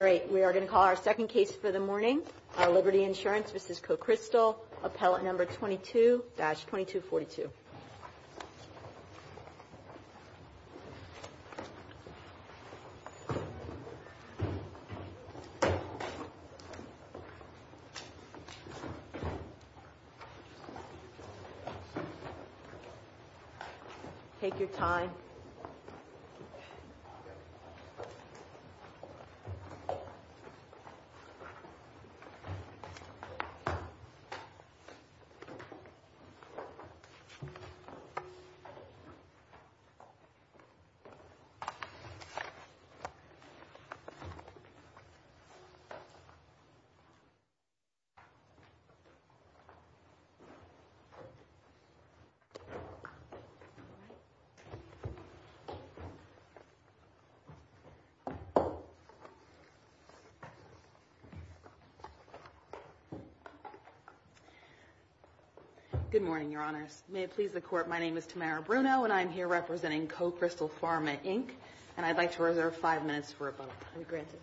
All right. We are going to call our second case for the morning. Our Liberty Insurance v. Cocrystal, appellate number 22-2242. Thank you. Take your time. Okay. Good morning, your honors. May it please the court, my name is Tamara Bruno, and I'm here representing Cocrystal Pharma, Inc. And I'd like to reserve five minutes for a bubble. Granted.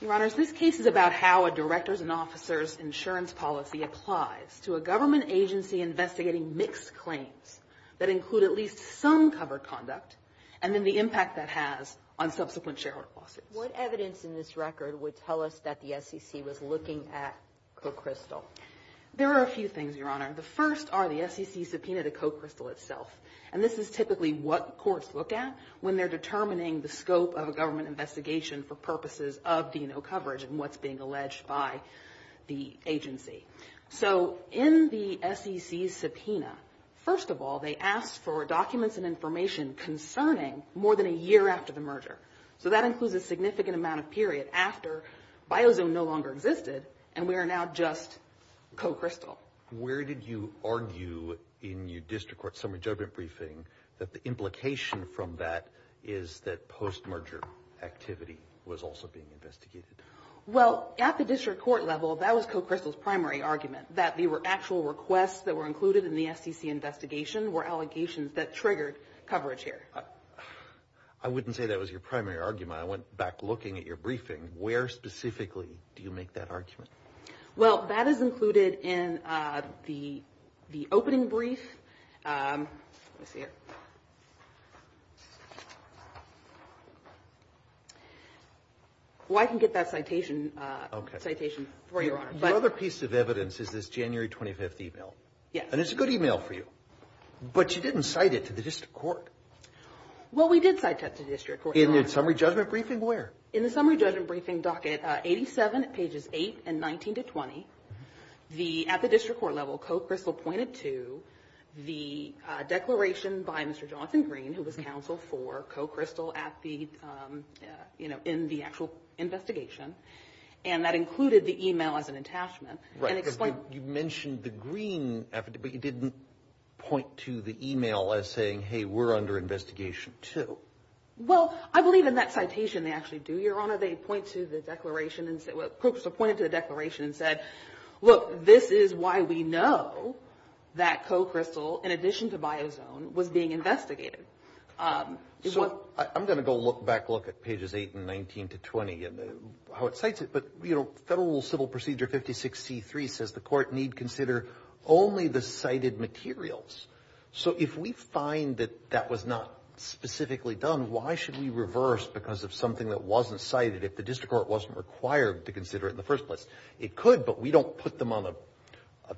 Your honors, this case is about how a director's and officer's insurance policy applies to a government agency investigating mixed claims that include at least some covered conduct and then the impact that has on subsequent shareholder lawsuits. What evidence in this record would tell us that the SEC was looking at Cocrystal? There are a few things, your honor. The first are the SEC's subpoena to Cocrystal itself. And this is typically what courts look at when they're determining the scope of a government investigation for purposes of D&O coverage and what's being alleged by the agency. So in the SEC's subpoena, first of all, they asked for documents and information concerning more than a year after the merger. So that includes a significant amount of period after Biozone no longer existed and we are now just Cocrystal. Where did you argue in your district court summary judgment briefing that the implication from that is that post-merger activity was also being investigated? Well, at the district court level, that was Cocrystal's primary argument, that the actual requests that were included in the SEC investigation were allegations that triggered coverage here. I wouldn't say that was your primary argument. I went back looking at your briefing. Where specifically do you make that argument? Well, that is included in the opening brief. Well, I can get that citation for you, your honor. The other piece of evidence is this January 25th email. And it's a good email for you, but you didn't cite it to the district court. Well, we did cite that to the district court. In your summary judgment briefing? Where? In the summary judgment briefing docket 87 pages 8 and 19 to 20. At the district court level, Cocrystal pointed to the declaration by Mr. Johnson Green, who was counsel for Cocrystal in the actual investigation. And that included the email as an attachment. You mentioned the Green affidavit, but you didn't point to the email as saying, hey, we're under investigation too. Well, I believe in that citation they actually do, your honor. They pointed to the declaration and said, well, Cocrystal pointed to the declaration and said, look, this is why we know that Cocrystal, in addition to Biozone, was being investigated. So I'm going to go back and look at pages 8 and 19 to 20 and how it cites it. But, you know, federal civil procedure 56C3 says the court need consider only the cited materials. So if we find that that was not specifically done, why should we reverse because of something that wasn't cited, if the district court wasn't required to consider it in the first place? It could, but we don't put them on a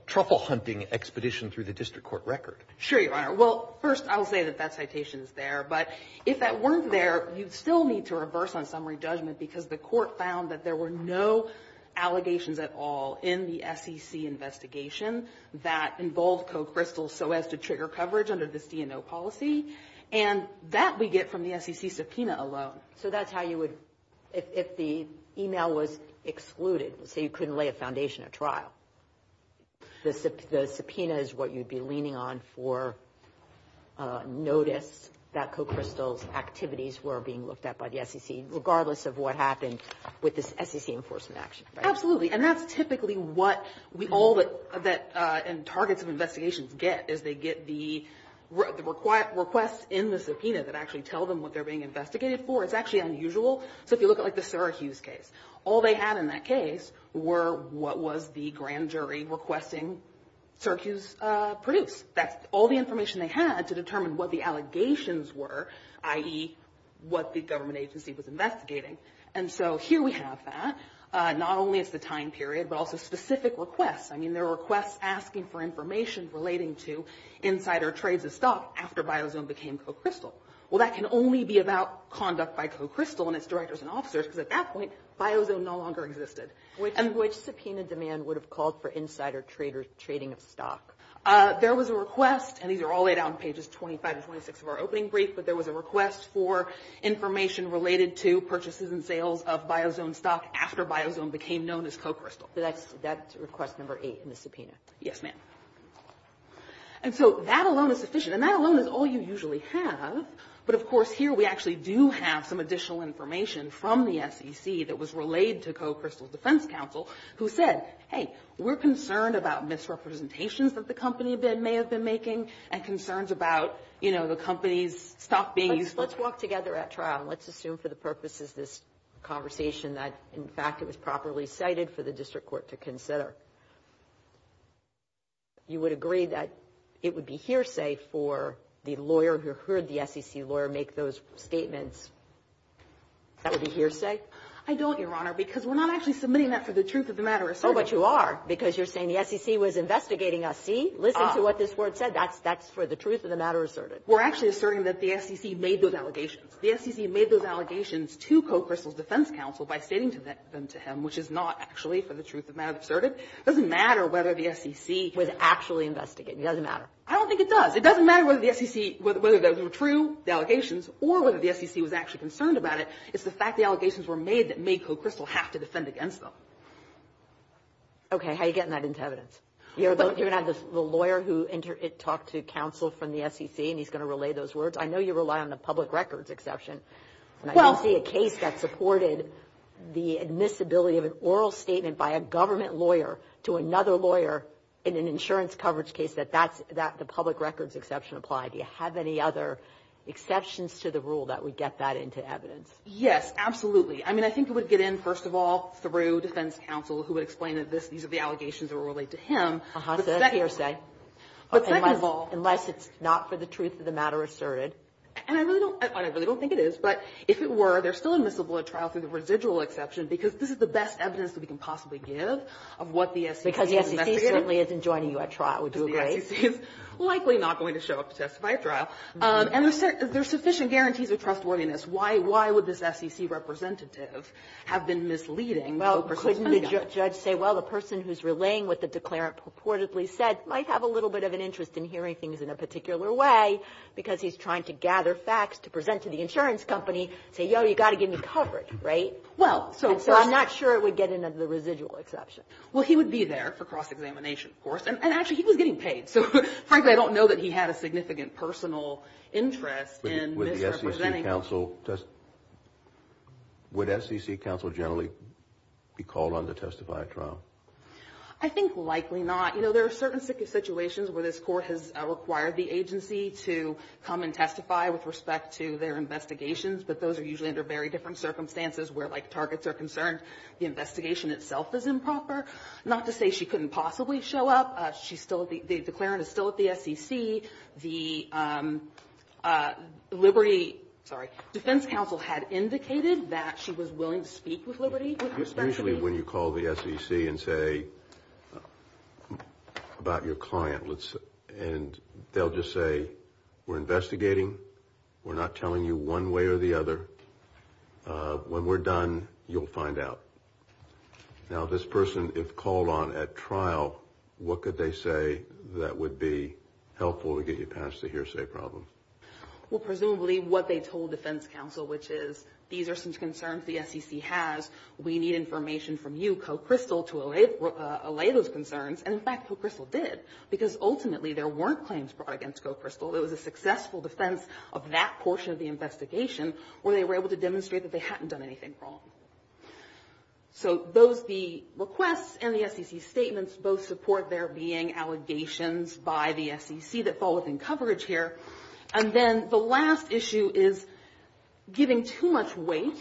truffle hunting expedition through the district court record. Sure, your honor. Well, first, I'll say that that citation is there. But if that weren't there, you'd still need to reverse on summary judgment because the court found that there were no allegations at all in the SEC investigation that involved Cocrystal so as to trigger coverage under this DNO policy. And that we get from the SEC subpoena alone. So that's how you would, if the email was excluded, so you couldn't lay a foundation at trial. The subpoena is what you'd be leaning on for notice that Cocrystal's activities were being looked at by the SEC, regardless of what happened with this SEC enforcement action. Absolutely. And that's typically what all the targets of investigations get, is they get the requests in the subpoena that actually tell them what they're being investigated for. It's actually unusual. So if you look at like the Syracuse case, all they had in that case were what was the grand jury requesting Syracuse produce. That's all the information they had to determine what the allegations were, i.e., what the government agency was investigating. And so here we have that. Not only is the time period, but also specific requests. I mean, there were requests asking for information relating to insider trades of stock after Biozone became Cocrystal. Well, that can only be about conduct by Cocrystal and its directors and officers because at that point, Biozone no longer existed. Which subpoena demand would have called for insider trading of stock? There was a request, and these are all laid out on pages 25 and 26 of our opening brief, but there was a request for information related to purchases and sales of Biozone stock after Biozone became known as Cocrystal. That's request number eight in the subpoena. Yes, ma'am. And so that alone is sufficient. And that alone is all you usually have. But, of course, here we actually do have some additional information from the SEC that was relayed to Cocrystal's defense counsel, who said, hey, we're concerned about misrepresentations that the company may have been making and concerns about, you know, the company's stock being used. Let's walk together at trial. Let's assume for the purposes of this conversation that, in fact, it was properly cited for the district court to consider. You would agree that it would be hearsay for the lawyer who heard the SEC lawyer make those statements? That would be hearsay? I don't, Your Honor, because we're not actually submitting that for the truth-of-the-matter asserted. Oh, but you are, because you're saying the SEC was investigating us. See? Listen to what this word said. That's for the truth-of-the-matter asserted. We're actually asserting that the SEC made those allegations. The SEC made those allegations to Cocrystal's defense counsel by stating them to him, which is not actually for the truth-of-the-matter asserted. It doesn't matter whether the SEC was actually investigating. It doesn't matter. I don't think it does. It doesn't matter whether the SEC, whether those were true, the allegations, or whether the SEC was actually concerned about it. It's the fact the allegations were made that made Cocrystal have to defend against them. Okay. How are you getting that into evidence? You're going to have the lawyer who talked to counsel from the SEC, and he's going to relay those words? I know you rely on the public records exception. I don't see a case that supported the admissibility of an oral statement by a government lawyer to another lawyer in an insurance coverage case that the public records exception applied. Do you have any other exceptions to the rule that would get that into evidence? Yes, absolutely. I mean, I think it would get in, first of all, through defense counsel, who would explain that these are the allegations that relate to him. Uh-huh. So that's hearsay. But second of all. Unless it's not for the truth-of-the-matter asserted. And I really don't think it is. But if it were, they're still admissible at trial through the residual exception because this is the best evidence that we can possibly give of what the SEC is investigating. Because the SEC certainly isn't joining you at trial. Would you agree? The SEC is likely not going to show up to testify at trial. And there's sufficient guarantees of trustworthiness. Why would this SEC representative have been misleading the person defending him? Well, couldn't the judge say, well, the person who's relaying what the declarant purportedly said might have a little bit of an interest in hearing things in a particular way because he's trying to gather facts to present to the insurance company and say, yo, you've got to give me coverage, right? Well, so first of all. And so I'm not sure it would get in under the residual exception. Well, he would be there for cross-examination, of course. And actually, he was getting paid. So frankly, I don't know that he had a significant personal interest in misrepresenting him. With the SEC counsel, would SEC counsel generally be called on to testify at trial? I think likely not. You know, there are certain situations where this court has required the agency to come and testify with respect to their investigations. But those are usually under very different circumstances where, like, targets are concerned. The investigation itself is improper. Not to say she couldn't possibly show up. She's still at the, the declarant is still at the SEC. The Liberty, sorry, defense counsel had indicated that she was willing to speak with Liberty with respect to these. Usually when you call the SEC and say, about your client, let's, and they'll just say, we're investigating. We're not telling you one way or the other. When we're done, you'll find out. Now, this person, if called on at trial, what could they say that would be helpful to get you past the hearsay problem? Well, presumably what they told defense counsel, which is, these are some concerns the SEC has. We need information from you, Coe Crystal, to allay those concerns. And in fact, Coe Crystal did. Because ultimately, there weren't claims brought against Coe Crystal. It was a successful defense of that portion of the investigation where they were able to demonstrate that they hadn't done anything wrong. So those, the requests and the SEC statements both support there being allegations by the SEC that fall within coverage here. And then the last issue is giving too much weight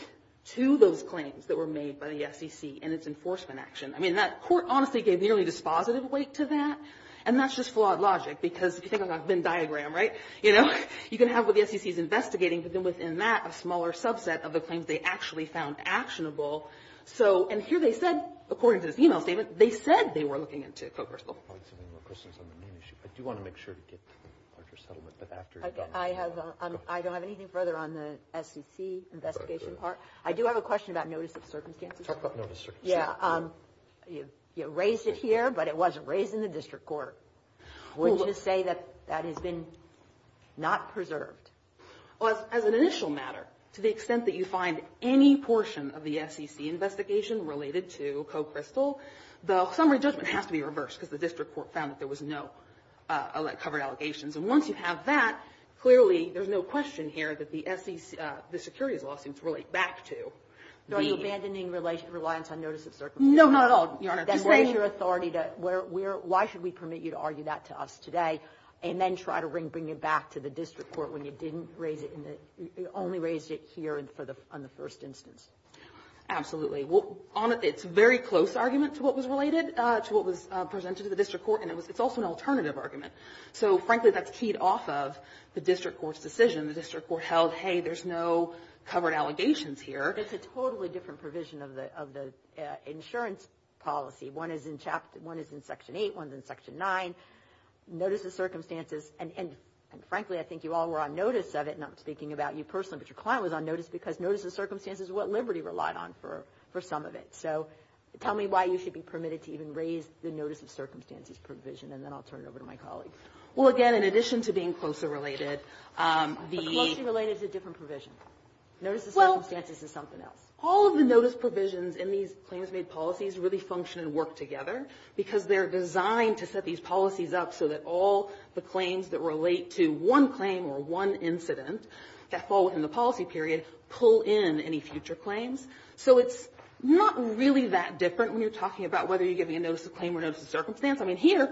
to those claims that were made by the SEC in its enforcement action. I mean, that court honestly gave nearly dispositive weight to that. And that's just flawed logic. Because if you think about the Venn diagram, right, you know, you can have what the SEC is investigating, but then within that, a smaller subset of the claims they actually found actionable. So, and here they said, according to this email statement, they said they were looking into Coe Crystal. I don't have any more questions on the main issue. I do want to make sure to get to the larger settlement. I don't have anything further on the SEC investigation part. I do have a question about notice of circumstances. Talk about notice of circumstances. Yeah. You raised it here, but it wasn't raised in the district court. Would you say that that has been not preserved? Well, as an initial matter, to the extent that you find any portion of the SEC investigation related to Coe Crystal, the summary judgment has to be reversed, because the district court found that there was no covered allegations. And once you have that, clearly there's no question here that the SEC, the securities law seems to relate back to the ---- Are you abandoning reliance on notice of circumstances? No, not at all, Your Honor. Then what is your authority to, why should we permit you to argue that to us today and then try to bring it back to the district court when you didn't raise it in the only raised it here on the first instance? Absolutely. Well, it's a very close argument to what was related to what was presented to the district court, and it's also an alternative argument. So, frankly, that's keyed off of the district court's decision. The district court held, hey, there's no covered allegations here. It's a totally different provision of the insurance policy. One is in Section 8. One is in Section 9. Notice of circumstances, and frankly, I think you all were on notice of it, and I'm speaking about you personally, but your client was on notice because notice of circumstances is what Liberty relied on for some of it. So tell me why you should be permitted to even raise the notice of circumstances provision, and then I'll turn it over to my colleagues. Well, again, in addition to being CLOSA-related, the ---- CLOSA-related is a different provision. Notice of circumstances is something else. They're designed to set these policies up so that all the claims that relate to one claim or one incident that fall within the policy period pull in any future claims. So it's not really that different when you're talking about whether you're giving a notice of claim or notice of circumstance. I mean, here,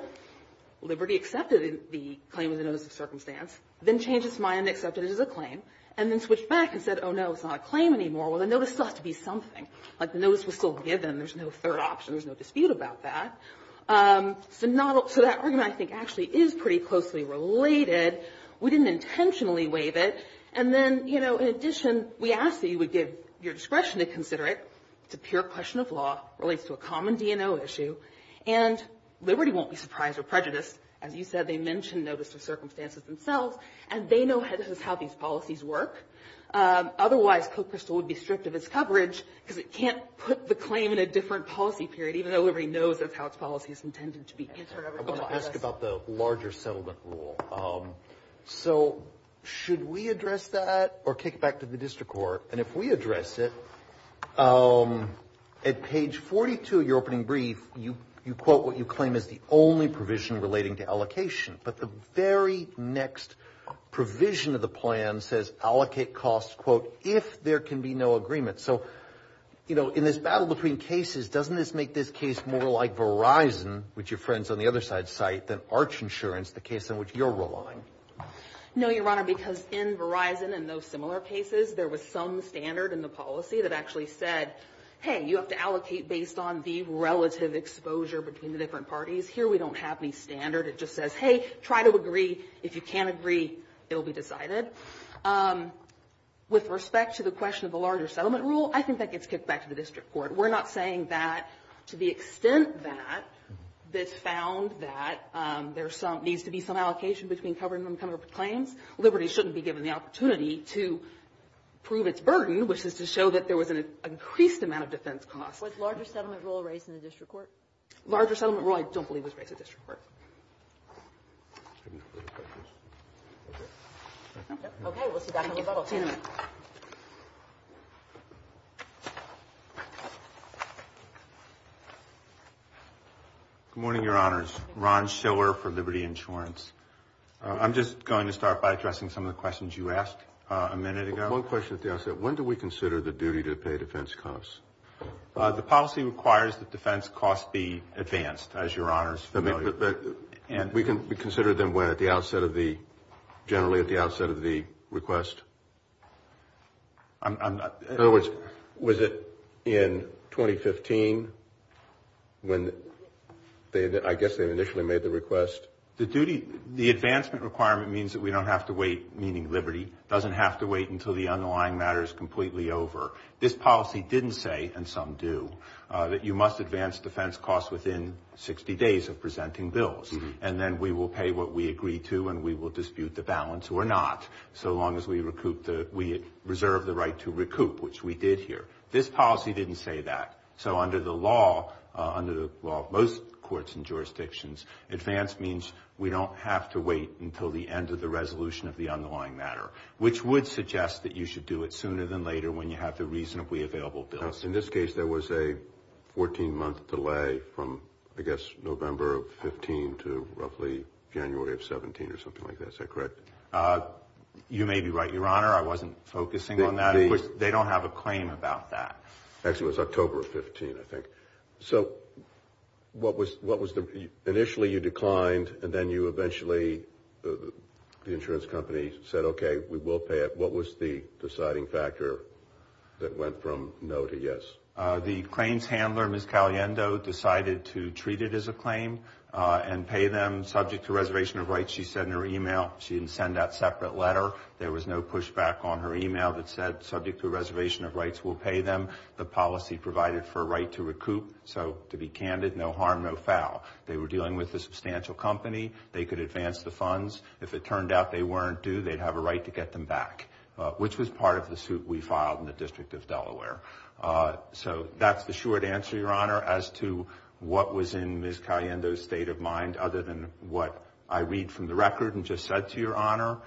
Liberty accepted the claim of the notice of circumstance, then changed its mind and accepted it as a claim, and then switched back and said, oh, no, it's not a claim anymore. Well, the notice still has to be something. Like the notice was still given. There's no third option. There's no dispute about that. So not all ---- so that argument, I think, actually is pretty closely related. We didn't intentionally waive it. And then, you know, in addition, we asked that you would give your discretion to consider it. It's a pure question of law. It relates to a common DNO issue. And Liberty won't be surprised or prejudiced. As you said, they mentioned notice of circumstances themselves, and they know this is how these policies work. Otherwise, Co-Crystal would be stripped of its coverage because it can't put the claim in a different policy period, even though Liberty knows that's how its policy is intended to be answered. I want to ask about the larger settlement rule. So should we address that or kick it back to the district court? And if we address it, at page 42 of your opening brief, you quote what you claim is the only provision relating to allocation. But the very next provision of the plan says allocate costs, quote, if there can be no agreement. So, you know, in this battle between cases, doesn't this make this case more like Verizon, which your friends on the other side cite, than Arch Insurance, the case on which you're relying? No, Your Honor, because in Verizon and those similar cases, there was some standard in the policy that actually said, hey, you have to allocate based on the relative exposure between the different parties. Here we don't have any standard. It just says, hey, try to agree. If you can't agree, it will be decided. With respect to the question of the larger settlement rule, I think that gets kicked back to the district court. We're not saying that to the extent that this found that there's some needs to be some allocation between covering and uncovered claims. Liberty shouldn't be given the opportunity to prove its burden, which is to show that there was an increased amount of defense costs. Was larger settlement rule raised in the district court? Larger settlement rule I don't believe was raised in the district court. Good morning, Your Honors. Ron Shiller for Liberty Insurance. I'm just going to start by addressing some of the questions you asked a minute ago. One question at the outset. When do we consider the duty to pay defense costs? The policy requires that defense costs be advanced, as Your Honors are familiar with. We consider them generally at the outset of the request? In other words, was it in 2015 when I guess they initially made the request? The advancement requirement means that we don't have to wait, meaning Liberty, doesn't have to wait until the underlying matter is completely over. This policy didn't say, and some do, that you must advance defense costs within 60 days of presenting bills. And then we will pay what we agree to and we will dispute the balance or not, so long as we reserve the right to recoup, which we did here. This policy didn't say that. So under the law, under the law of most courts and jurisdictions, advance means we don't have to wait until the end of the resolution of the underlying matter, which would suggest that you should do it sooner than later when you have the reasonably available bills. Now, in this case, there was a 14-month delay from, I guess, November of 15 to roughly January of 17 or something like that. Is that correct? You may be right, Your Honor. I wasn't focusing on that. They don't have a claim about that. Actually, it was October of 15, I think. So what was the – initially you declined and then you eventually – the insurance company said, okay, we will pay it. What was the deciding factor that went from no to yes? The claims handler, Ms. Caliendo, decided to treat it as a claim and pay them. Subject to reservation of rights, she said in her email, she didn't send that separate letter. There was no pushback on her email that said, subject to reservation of rights, we'll pay them. The policy provided for a right to recoup. So to be candid, no harm, no foul. They were dealing with a substantial company. They could advance the funds. If it turned out they weren't due, they'd have a right to get them back, which was part of the suit we filed in the District of Delaware. So that's the short answer, Your Honor, as to what was in Ms. Caliendo's state of mind other than what I read from the record and just said to Your Honor.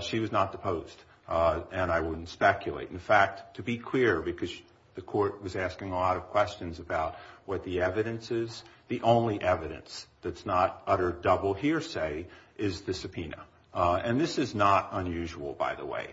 She was not deposed, and I wouldn't speculate. In fact, to be clear, because the court was asking a lot of questions about what the evidence is, the only evidence that's not utter double hearsay is the subpoena. And this is not unusual, by the way.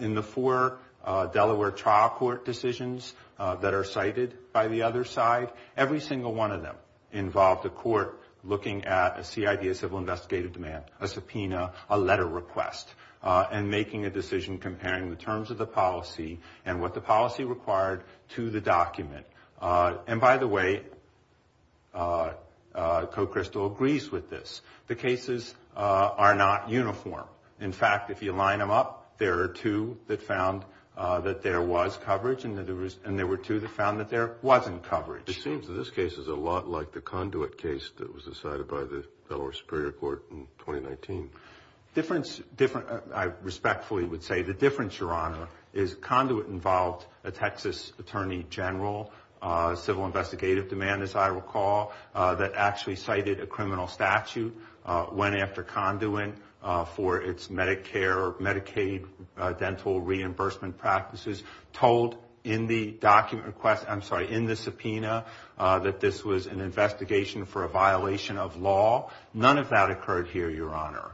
In the four Delaware trial court decisions that are cited by the other side, every single one of them involved a court looking at a CID, a civil investigative demand, a subpoena, a letter request, and making a decision comparing the terms of the policy and what the policy required to the document. And by the way, Coe Crystal agrees with this. The cases are not uniform. In fact, if you line them up, there are two that found that there was coverage and there were two that found that there wasn't coverage. It seems that this case is a lot like the Conduit case that was decided by the Delaware Superior Court in 2019. I respectfully would say the difference, Your Honor, is Conduit involved a Texas Attorney General, a civil investigative demand, as I recall, that actually cited a criminal statute went after Conduit for its Medicare or Medicaid dental reimbursement practices, told in the document request, I'm sorry, in the subpoena, that this was an investigation for a violation of law. None of that occurred here, Your Honor.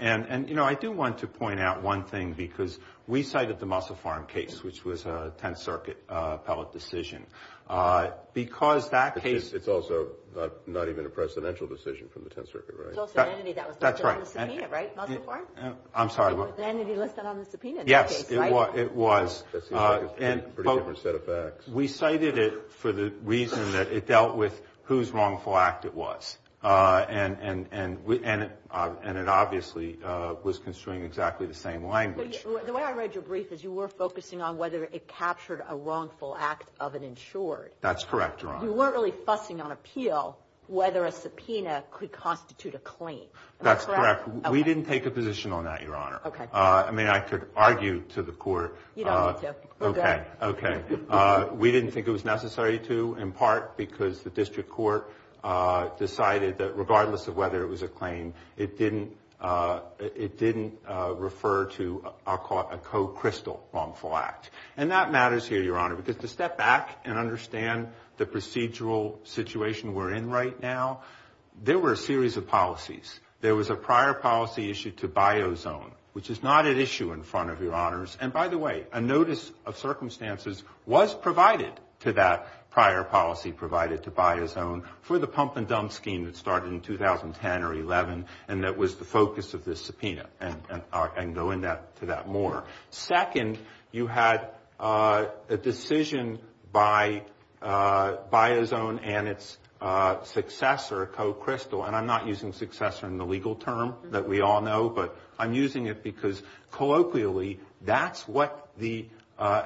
And, you know, I do want to point out one thing because we cited the Musselfarm case, which was a Tenth Circuit appellate decision. Because that case- It's also not even a presidential decision from the Tenth Circuit, right? It's also an entity that was listed on the subpoena, right? Musselfarm? I'm sorry, what? An entity listed on the subpoena in that case, right? Yes, it was. That seems like a pretty different set of facts. We cited it for the reason that it dealt with whose wrongful act it was. And it obviously was construing exactly the same language. The way I read your brief is you were focusing on whether it captured a wrongful act of an insured. That's correct, Your Honor. You weren't really fussing on appeal whether a subpoena could constitute a claim. That's correct. Okay. We didn't take a position on that, Your Honor. Okay. I mean, I could argue to the court- You don't need to. We're good. Okay. We didn't think it was necessary to, in part because the district court decided that regardless of whether it was a claim, it didn't refer to a co-crystal wrongful act. And that matters here, Your Honor, because to step back and understand the procedural situation we're in right now, there were a series of policies. There was a prior policy issued to Biozone, which is not at issue in front of Your Honors. And, by the way, a notice of circumstances was provided to that prior policy provided to Biozone for the pump and dump scheme that started in 2010 or 2011 and that was the focus of this subpoena. And I can go into that more. Second, you had a decision by Biozone and its successor, co-crystal, and I'm not using successor in the legal term that we all know, but I'm using it because colloquially that's what the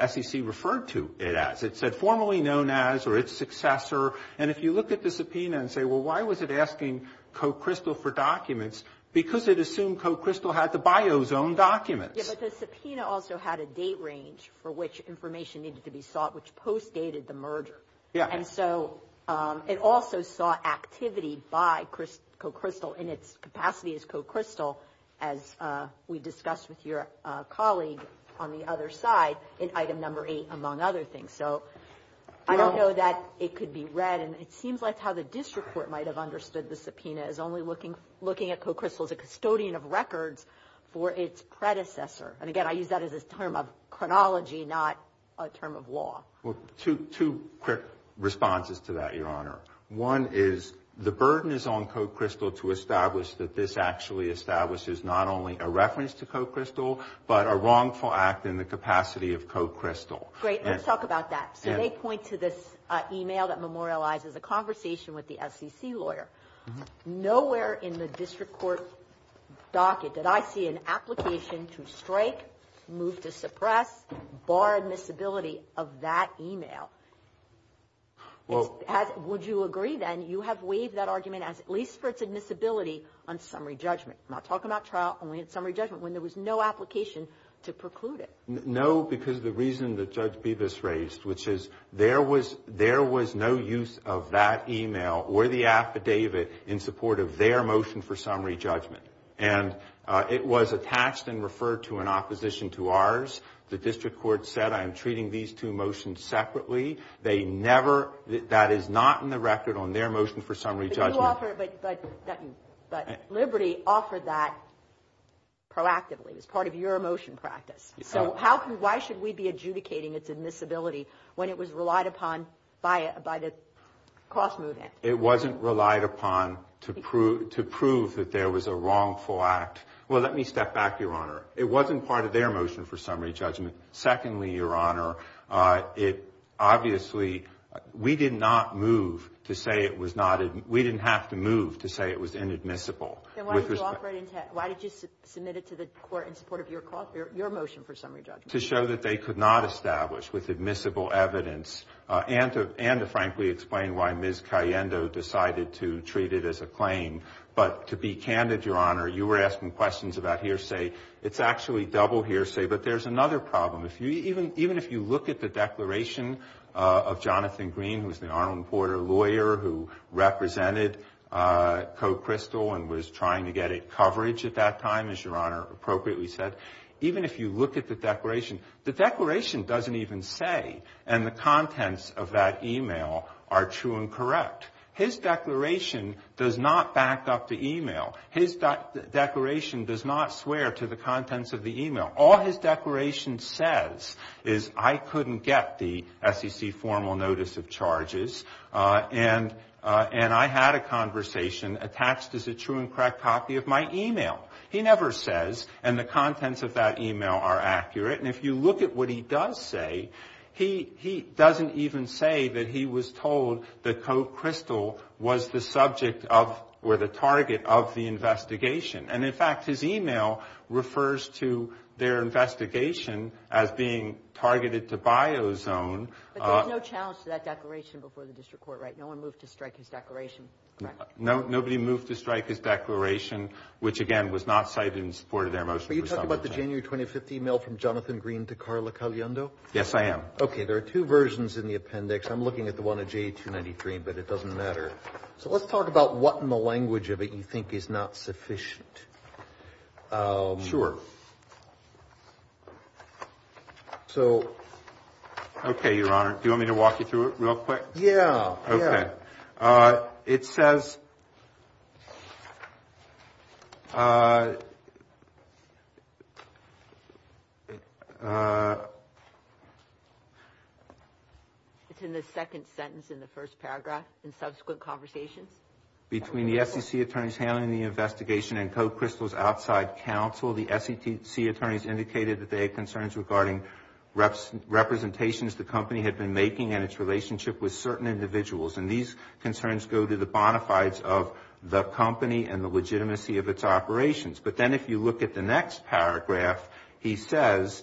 SEC referred to it as. It said formerly known as or its successor. And if you look at the subpoena and say, well, why was it asking co-crystal for documents? Because it assumed co-crystal had the Biozone documents. Yeah, but the subpoena also had a date range for which information needed to be sought, which post-dated the merger. Yeah. And so it also sought activity by co-crystal in its capacity as co-crystal, as we discussed with your colleague on the other side, in item number eight, among other things. So I don't know that it could be read, and it seems like how the district court might have understood the subpoena is only looking at co-crystal as a custodian of records for its predecessor. And, again, I use that as a term of chronology, not a term of law. Well, two quick responses to that, Your Honor. One is the burden is on co-crystal to establish that this actually establishes not only a reference to co-crystal, but a wrongful act in the capacity of co-crystal. Great. Let's talk about that. So they point to this email that memorializes a conversation with the SEC lawyer. Nowhere in the district court docket did I see an application to strike, move to suppress, bar admissibility of that email. Would you agree, then, you have waived that argument as at least for its admissibility on summary judgment? I'm not talking about trial only in summary judgment when there was no application to preclude it. No, because the reason that Judge Bevis raised, which is there was no use of that email or the affidavit in support of their motion for summary judgment. And it was attached and referred to in opposition to ours. The district court said, I am treating these two motions separately. They never, that is not in the record on their motion for summary judgment. But Liberty offered that proactively as part of your motion practice. So why should we be adjudicating its admissibility when it was relied upon by the cost movement? It wasn't relied upon to prove that there was a wrongful act. Well, let me step back, Your Honor. It wasn't part of their motion for summary judgment. Secondly, Your Honor, it obviously, we did not move to say it was not, we didn't have to move to say it was inadmissible. Then why did you submit it to the court in support of your motion for summary judgment? To show that they could not establish with admissible evidence and to frankly explain why Ms. Cayendo decided to treat it as a claim. But to be candid, Your Honor, you were asking questions about hearsay. It's actually double hearsay. But there's another problem. Even if you look at the declaration of Jonathan Green, who is the Arnold and Porter lawyer who represented Coe Crystal and was trying to get it coverage at that time, as Your Honor appropriately said, even if you look at the declaration, the declaration doesn't even say and the contents of that e-mail are true and correct. His declaration does not back up the e-mail. His declaration does not swear to the contents of the e-mail. All his declaration says is I couldn't get the SEC formal notice of charges and I had a conversation attached as a true and correct copy of my e-mail. He never says and the contents of that e-mail are accurate. And if you look at what he does say, he doesn't even say that he was told that Coe Crystal was the subject of or the target of the investigation. And, in fact, his e-mail refers to their investigation as being targeted to Biozone. But there was no challenge to that declaration before the district court, right? No one moved to strike his declaration, correct? Nobody moved to strike his declaration, which, again, was not cited in support of their motion. Your Honor, are you talking about the January 2015 e-mail from Jonathan Green to Carla Caliendo? Yes, I am. Okay. There are two versions in the appendix. I'm looking at the one of J293, but it doesn't matter. So let's talk about what in the language of it you think is not sufficient. Sure. Okay, Your Honor. Do you want me to walk you through it real quick? Yeah. Okay. It says, It's in the second sentence in the first paragraph, in subsequent conversations. Between the SEC attorneys handling the investigation and Coe Crystal's outside counsel, the SEC attorneys indicated that they had concerns regarding representations the company had been making and its relationship with certain individuals. And these concerns go to the bona fides of the company and the legitimacy of its operations. But then if you look at the next paragraph, he says,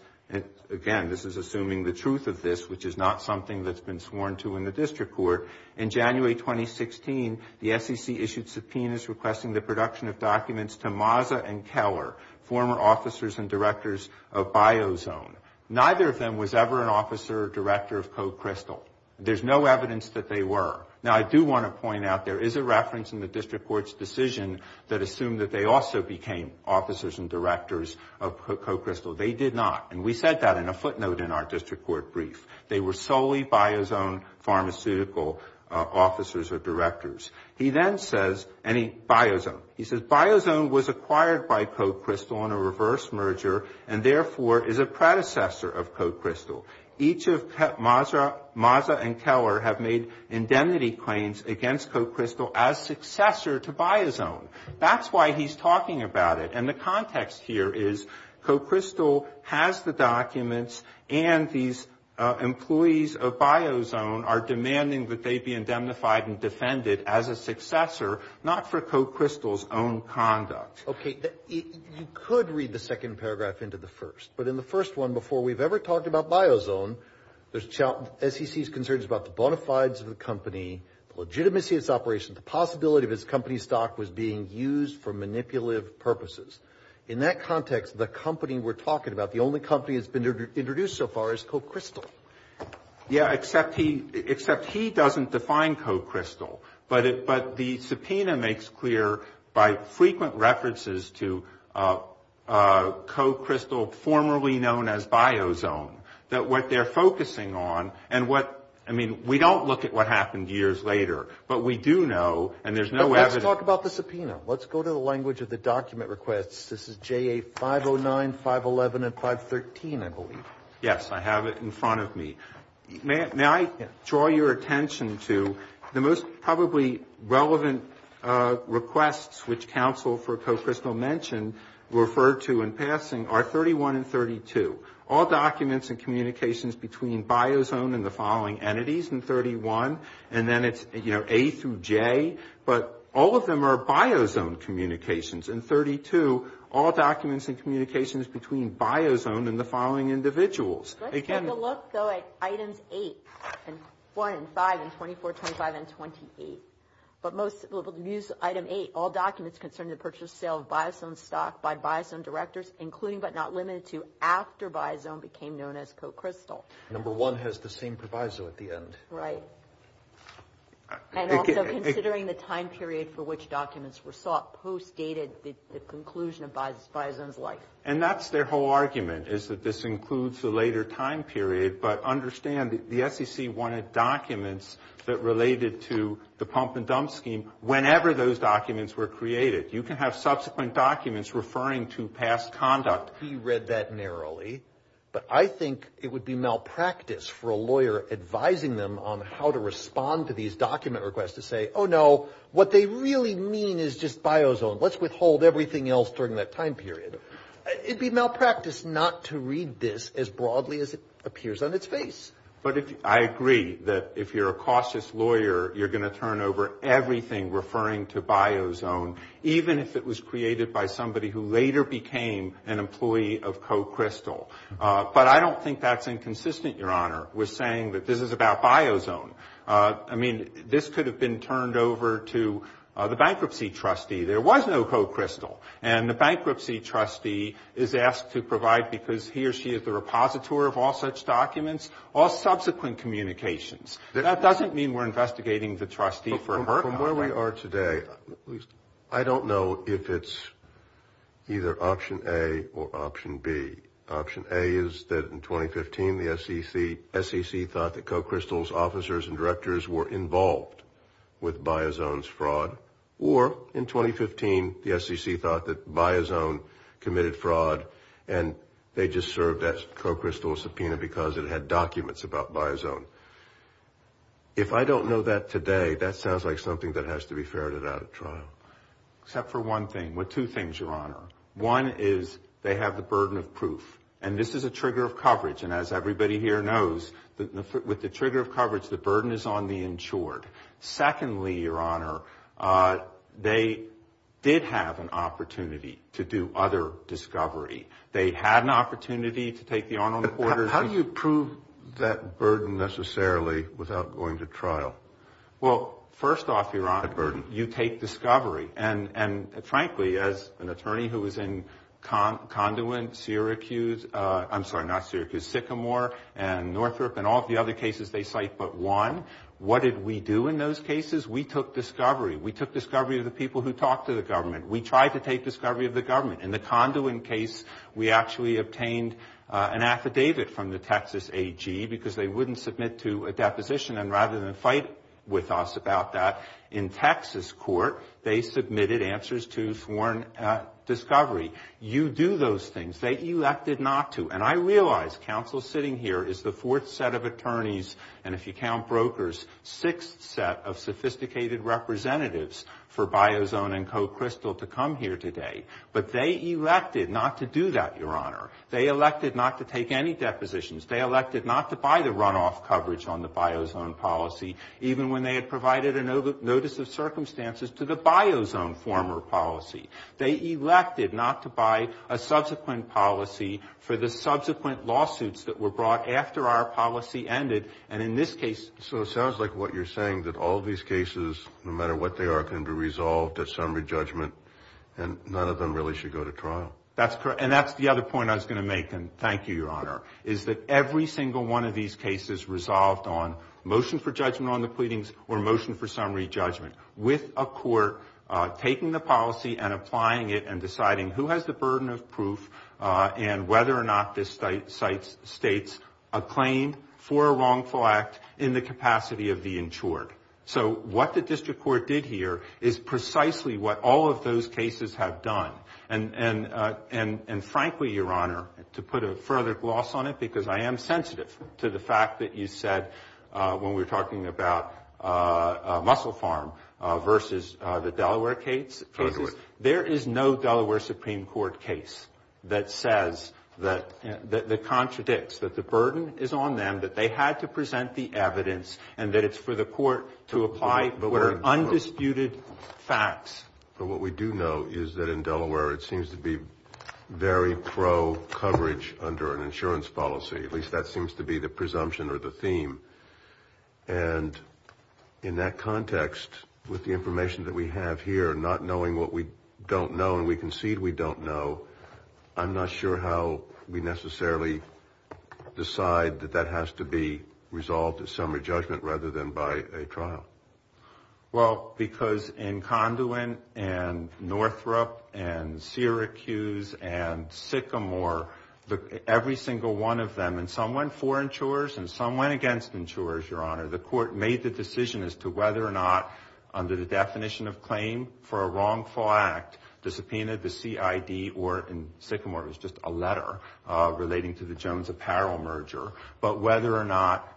again, this is assuming the truth of this, which is not something that's been sworn to in the district court, In January 2016, the SEC issued subpoenas requesting the production of documents to Mazza and Keller, former officers and directors of Biozone. Neither of them was ever an officer or director of Coe Crystal. There's no evidence that they were. Now, I do want to point out, there is a reference in the district court's decision that assumed that they also became officers and directors of Coe Crystal. They did not. And we said that in a footnote in our district court brief. They were solely Biozone pharmaceutical officers or directors. He then says, and he, Biozone. He says, Biozone was acquired by Coe Crystal on a reverse merger and therefore is a predecessor of Coe Crystal. Each of Mazza and Keller have made indemnity claims against Coe Crystal as successor to Biozone. That's why he's talking about it. And the context here is Coe Crystal has the documents and these employees of Biozone are demanding that they be indemnified and defended as a successor, not for Coe Crystal's own conduct. Okay. You could read the second paragraph into the first. But in the first one, before we've ever talked about Biozone, the SEC's concern is about the bona fides of the company, the legitimacy of its operation, the possibility of its company stock was being used for manipulative purposes. In that context, the company we're talking about, the only company that's been introduced so far is Coe Crystal. Yeah, except he doesn't define Coe Crystal. But the subpoena makes clear by frequent references to Coe Crystal, formerly known as Biozone, that what they're focusing on and what, I mean, we don't look at what happened years later. But we do know, and there's no evidence. But let's talk about the subpoena. Let's go to the language of the document requests. This is JA 509, 511, and 513, I believe. Yes, I have it in front of me. May I draw your attention to the most probably relevant requests, which counsel for Coe Crystal mentioned, referred to in passing are 31 and 32, all documents and communications between Biozone and the following entities in 31. And then it's, you know, A through J. But all of them are Biozone communications. In 32, all documents and communications between Biozone and the following individuals. Let's take a look, though, at Items 8 and 1 and 5 and 24, 25, and 28. But most, we'll use Item 8, all documents concerning the purchase and sale of Biozone stock by Biozone directors, including but not limited to after Biozone became known as Coe Crystal. Number one has the same proviso at the end. Right. And also considering the time period for which documents were sought post dated the conclusion of Biozone's life. And that's their whole argument, is that this includes the later time period. But understand the SEC wanted documents that related to the pump and dump scheme whenever those documents were created. You can have subsequent documents referring to past conduct. He read that narrowly. But I think it would be malpractice for a lawyer advising them on how to respond to these document requests to say, oh, no, what they really mean is just Biozone. Let's withhold everything else during that time period. It would be malpractice not to read this as broadly as it appears on its face. But I agree that if you're a cautious lawyer, you're going to turn over everything referring to Biozone, even if it was created by somebody who later became an employee of Coe Crystal. But I don't think that's inconsistent, Your Honor, with saying that this is about Biozone. I mean, this could have been turned over to the bankruptcy trustee. There was no Coe Crystal. And the bankruptcy trustee is asked to provide because he or she is the repositor of all such documents, all subsequent communications. That doesn't mean we're investigating the trustee for her. From where we are today, I don't know if it's either option A or option B. Option A is that in 2015, the SEC thought that Coe Crystal's officers and directors were involved with Biozone's fraud. Or in 2015, the SEC thought that Biozone committed fraud, and they just served that Coe Crystal subpoena because it had documents about Biozone. If I don't know that today, that sounds like something that has to be ferreted out at trial. Except for one thing. Well, two things, Your Honor. One is they have the burden of proof. And this is a trigger of coverage. And as everybody here knows, with the trigger of coverage, the burden is on the insured. Secondly, Your Honor, they did have an opportunity to do other discovery. They had an opportunity to take the on-on quarters. How do you prove that burden necessarily without going to trial? Well, first off, Your Honor, you take discovery. And, frankly, as an attorney who was in Conduit, Syracuse, I'm sorry, not Syracuse, Sycamore and Northrop and all the other cases they cite but one, what did we do in those cases? We took discovery. We took discovery of the people who talked to the government. We tried to take discovery of the government. In the Conduit case, we actually obtained an affidavit from the Texas AG because they wouldn't submit to a deposition. And rather than fight with us about that, in Texas court, they submitted answers to sworn discovery. You do those things. They elected not to. And I realize counsel sitting here is the fourth set of attorneys, and if you count brokers, sixth set of sophisticated representatives for Biozone and Co-Crystal to come here today. But they elected not to do that, Your Honor. They elected not to take any depositions. They elected not to buy the runoff coverage on the Biozone policy, even when they had provided a notice of circumstances to the Biozone former policy. They elected not to buy a subsequent policy for the subsequent lawsuits that were brought after our policy ended. And in this case. So it sounds like what you're saying, that all these cases, no matter what they are, can be resolved at summary judgment, and none of them really should go to trial. That's correct. And that's the other point I was going to make, and thank you, Your Honor, is that every single one of these cases resolved on motion for judgment on the pleadings or motion for summary judgment, with a court taking the policy and applying it and deciding who has the burden of proof and whether or not this states a claim for a wrongful act in the capacity of the insured. So what the district court did here is precisely what all of those cases have done. And frankly, Your Honor, to put a further gloss on it, because I am sensitive to the fact that you said when we were talking about Mussel Farm versus the Delaware cases, there is no Delaware Supreme Court case that contradicts that the burden is on them, that they had to present the evidence, and that it's for the court to apply undisputed facts. But what we do know is that in Delaware it seems to be very pro-coverage under an insurance policy. At least that seems to be the presumption or the theme. And in that context, with the information that we have here, not knowing what we don't know and we concede we don't know, I'm not sure how we necessarily decide that that has to be resolved at summary judgment rather than by a trial. Well, because in Conduit and Northrop and Syracuse and Sycamore, every single one of them, and some went for insurers and some went against insurers, Your Honor. The court made the decision as to whether or not, under the definition of claim for a wrongful act, the subpoena, the CID, or in Sycamore it was just a letter relating to the Jones Apparel merger, but whether or not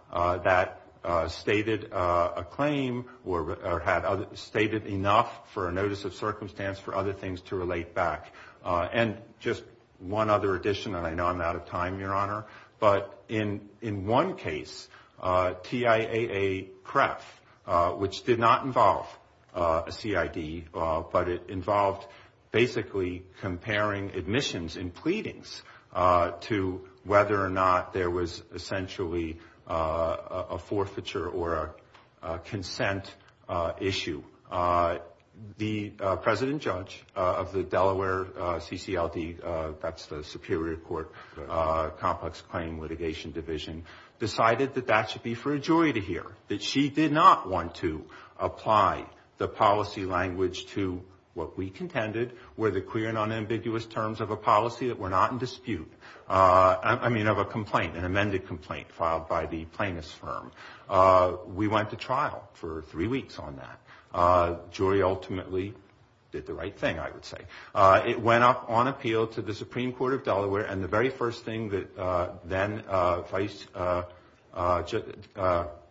that stated a claim or had stated enough for a notice of circumstance for other things to relate back. And just one other addition, and I know I'm out of time, Your Honor, but in one case, TIAA-PREF, which did not involve a CID, but it involved basically comparing admissions and pleadings to whether or not there was essentially a forfeiture or a consent issue. The president judge of the Delaware CCLD, that's the Superior Court Complex Claim Litigation Division, decided that that should be for a jury to hear, that she did not want to apply the policy language to what we contended were the clear and unambiguous terms of a policy that were not in dispute, I mean of a complaint, an amended complaint filed by the plaintiff's firm. We went to trial for three weeks on that. The jury ultimately did the right thing, I would say. It went up on appeal to the Supreme Court of Delaware, and the very first thing that then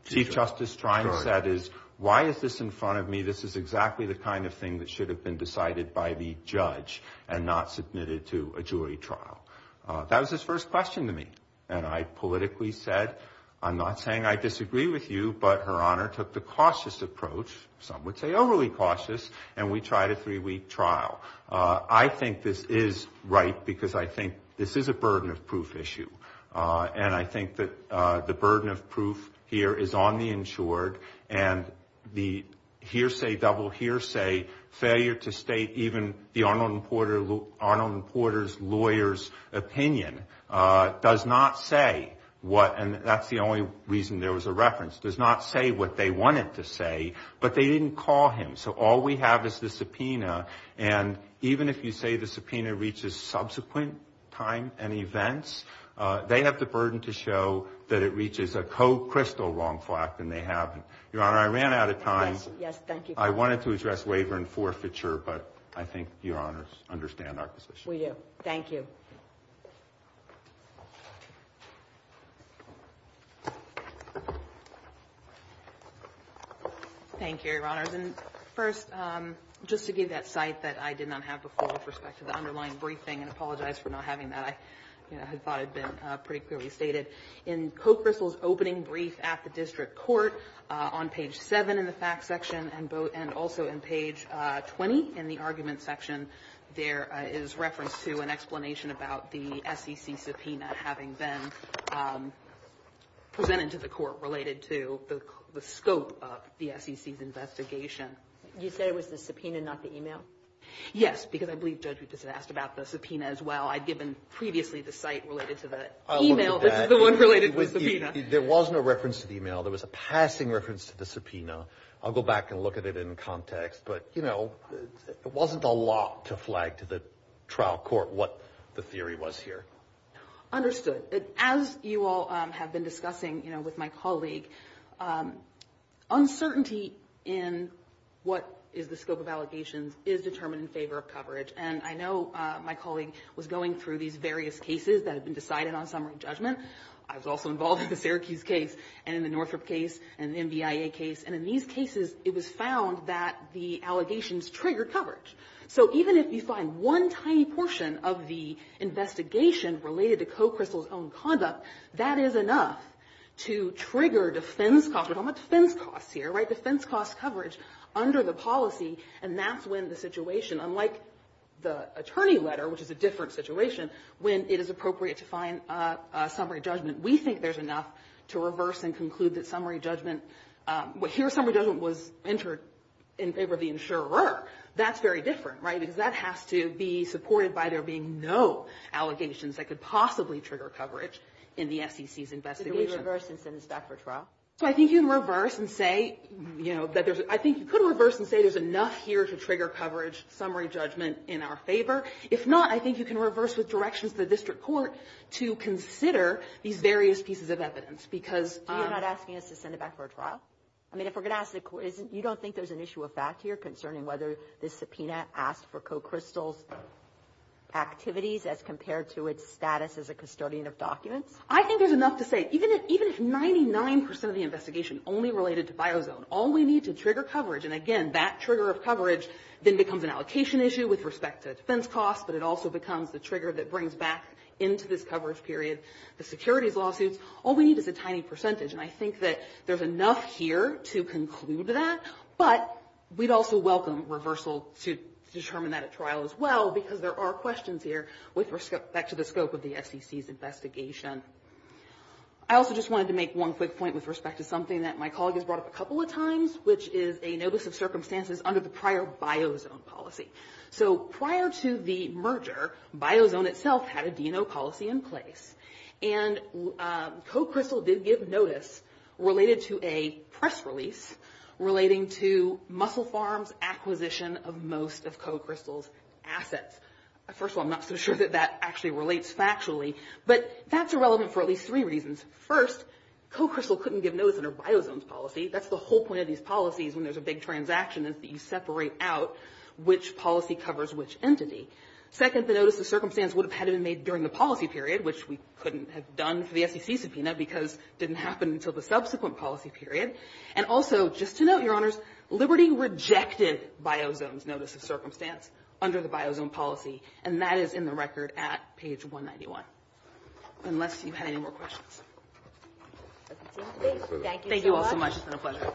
Chief Justice Trine said is, why is this in front of me? This is exactly the kind of thing that should have been decided by the judge and not submitted to a jury trial. That was his first question to me. And I politically said, I'm not saying I disagree with you, but Her Honor took the cautious approach, some would say overly cautious, and we tried a three-week trial. I think this is right because I think this is a burden of proof issue, and I think that the burden of proof here is on the insured, and the hearsay-double-hearsay failure to state even the Arnold and Porter's lawyer's opinion does not say what, and that's the only reason there was a reference, does not say what they wanted to say, but they didn't call him. So all we have is the subpoena, and even if you say the subpoena reaches subsequent time and events, they have the burden to show that it reaches a co-crystal wrongful act, and they haven't. Your Honor, I ran out of time. Yes, thank you. I wanted to address waiver and forfeiture, but I think Your Honors understand our position. We do. Thank you. Thank you, Your Honors. And first, just to give that cite that I did not have before with respect to the underlying briefing, and I apologize for not having that. I had thought it had been pretty clearly stated. In co-crystal's opening brief at the district court on page 7 in the fact section and also in page 20 in the argument section, there is reference to an explanation about the SEC subpoena having been presented to the court related to the scope of the SEC's investigation. You said it was the subpoena, not the e-mail? Yes, because I believe Judge Rupes had asked about the subpoena as well. I'd given previously the cite related to the e-mail. This is the one related to the subpoena. There was no reference to the e-mail. There was a passing reference to the subpoena. I'll go back and look at it in context. But, you know, it wasn't a lot to flag to the trial court what the theory was here. Understood. As you all have been discussing, you know, with my colleague, uncertainty in what is the scope of allegations is determined in favor of coverage. And I know my colleague was going through these various cases that have been decided on summary judgment. I was also involved in the Syracuse case and in the Northrop case and the NBIA case. And in these cases, it was found that the allegations triggered coverage. So even if you find one tiny portion of the investigation related to Coe-Chrystal's own conduct, that is enough to trigger defense costs. We don't want defense costs here, right? Defense costs coverage under the policy, and that's when the situation, unlike the attorney letter, which is a different situation, when it is appropriate to find summary judgment, we think there's enough to reverse and conclude that summary judgment, here summary judgment was entered in favor of the insurer. That's very different, right? Because that has to be supported by there being no allegations that could possibly trigger coverage in the SEC's investigation. Could it reverse and send us back for trial? So I think you can reverse and say, you know, that there's – I think you could reverse and say there's enough here to trigger coverage summary judgment in our favor. If not, I think you can reverse with directions to the district court to consider these various pieces of evidence because – You don't think there's an issue of fact here concerning whether the subpoena asked for Coe-Chrystal's activities as compared to its status as a custodian of documents? I think there's enough to say. Even if 99 percent of the investigation only related to Biozone, all we need to trigger coverage, and again, that trigger of coverage then becomes an allocation issue with respect to defense costs, but it also becomes the trigger that brings back into this coverage period the securities lawsuits, all we need is a tiny percentage. And I think that there's enough here to conclude that, but we'd also welcome reversal to determine that at trial as well because there are questions here with respect – back to the scope of the SEC's investigation. I also just wanted to make one quick point with respect to something that my colleague has brought up a couple of times, which is a notice of circumstances under the prior Biozone policy. So prior to the merger, Biozone itself had a D&O policy in place. And Coe-Chrystal did give notice related to a press release relating to Muscle Farms' acquisition of most of Coe-Chrystal's assets. First of all, I'm not so sure that that actually relates factually, but that's irrelevant for at least three reasons. First, Coe-Chrystal couldn't give notice under Biozone's policy. That's the whole point of these policies when there's a big transaction is that you separate out which policy covers which entity. Second, the notice of circumstance would have had to have been made during the policy period, which we couldn't have done for the SEC subpoena because it didn't happen until the subsequent policy period. And also, just to note, Your Honors, Liberty rejected Biozone's notice of circumstance under the Biozone policy, and that is in the record at page 191, unless you had any more questions. Thank you all so much. It's been a pleasure.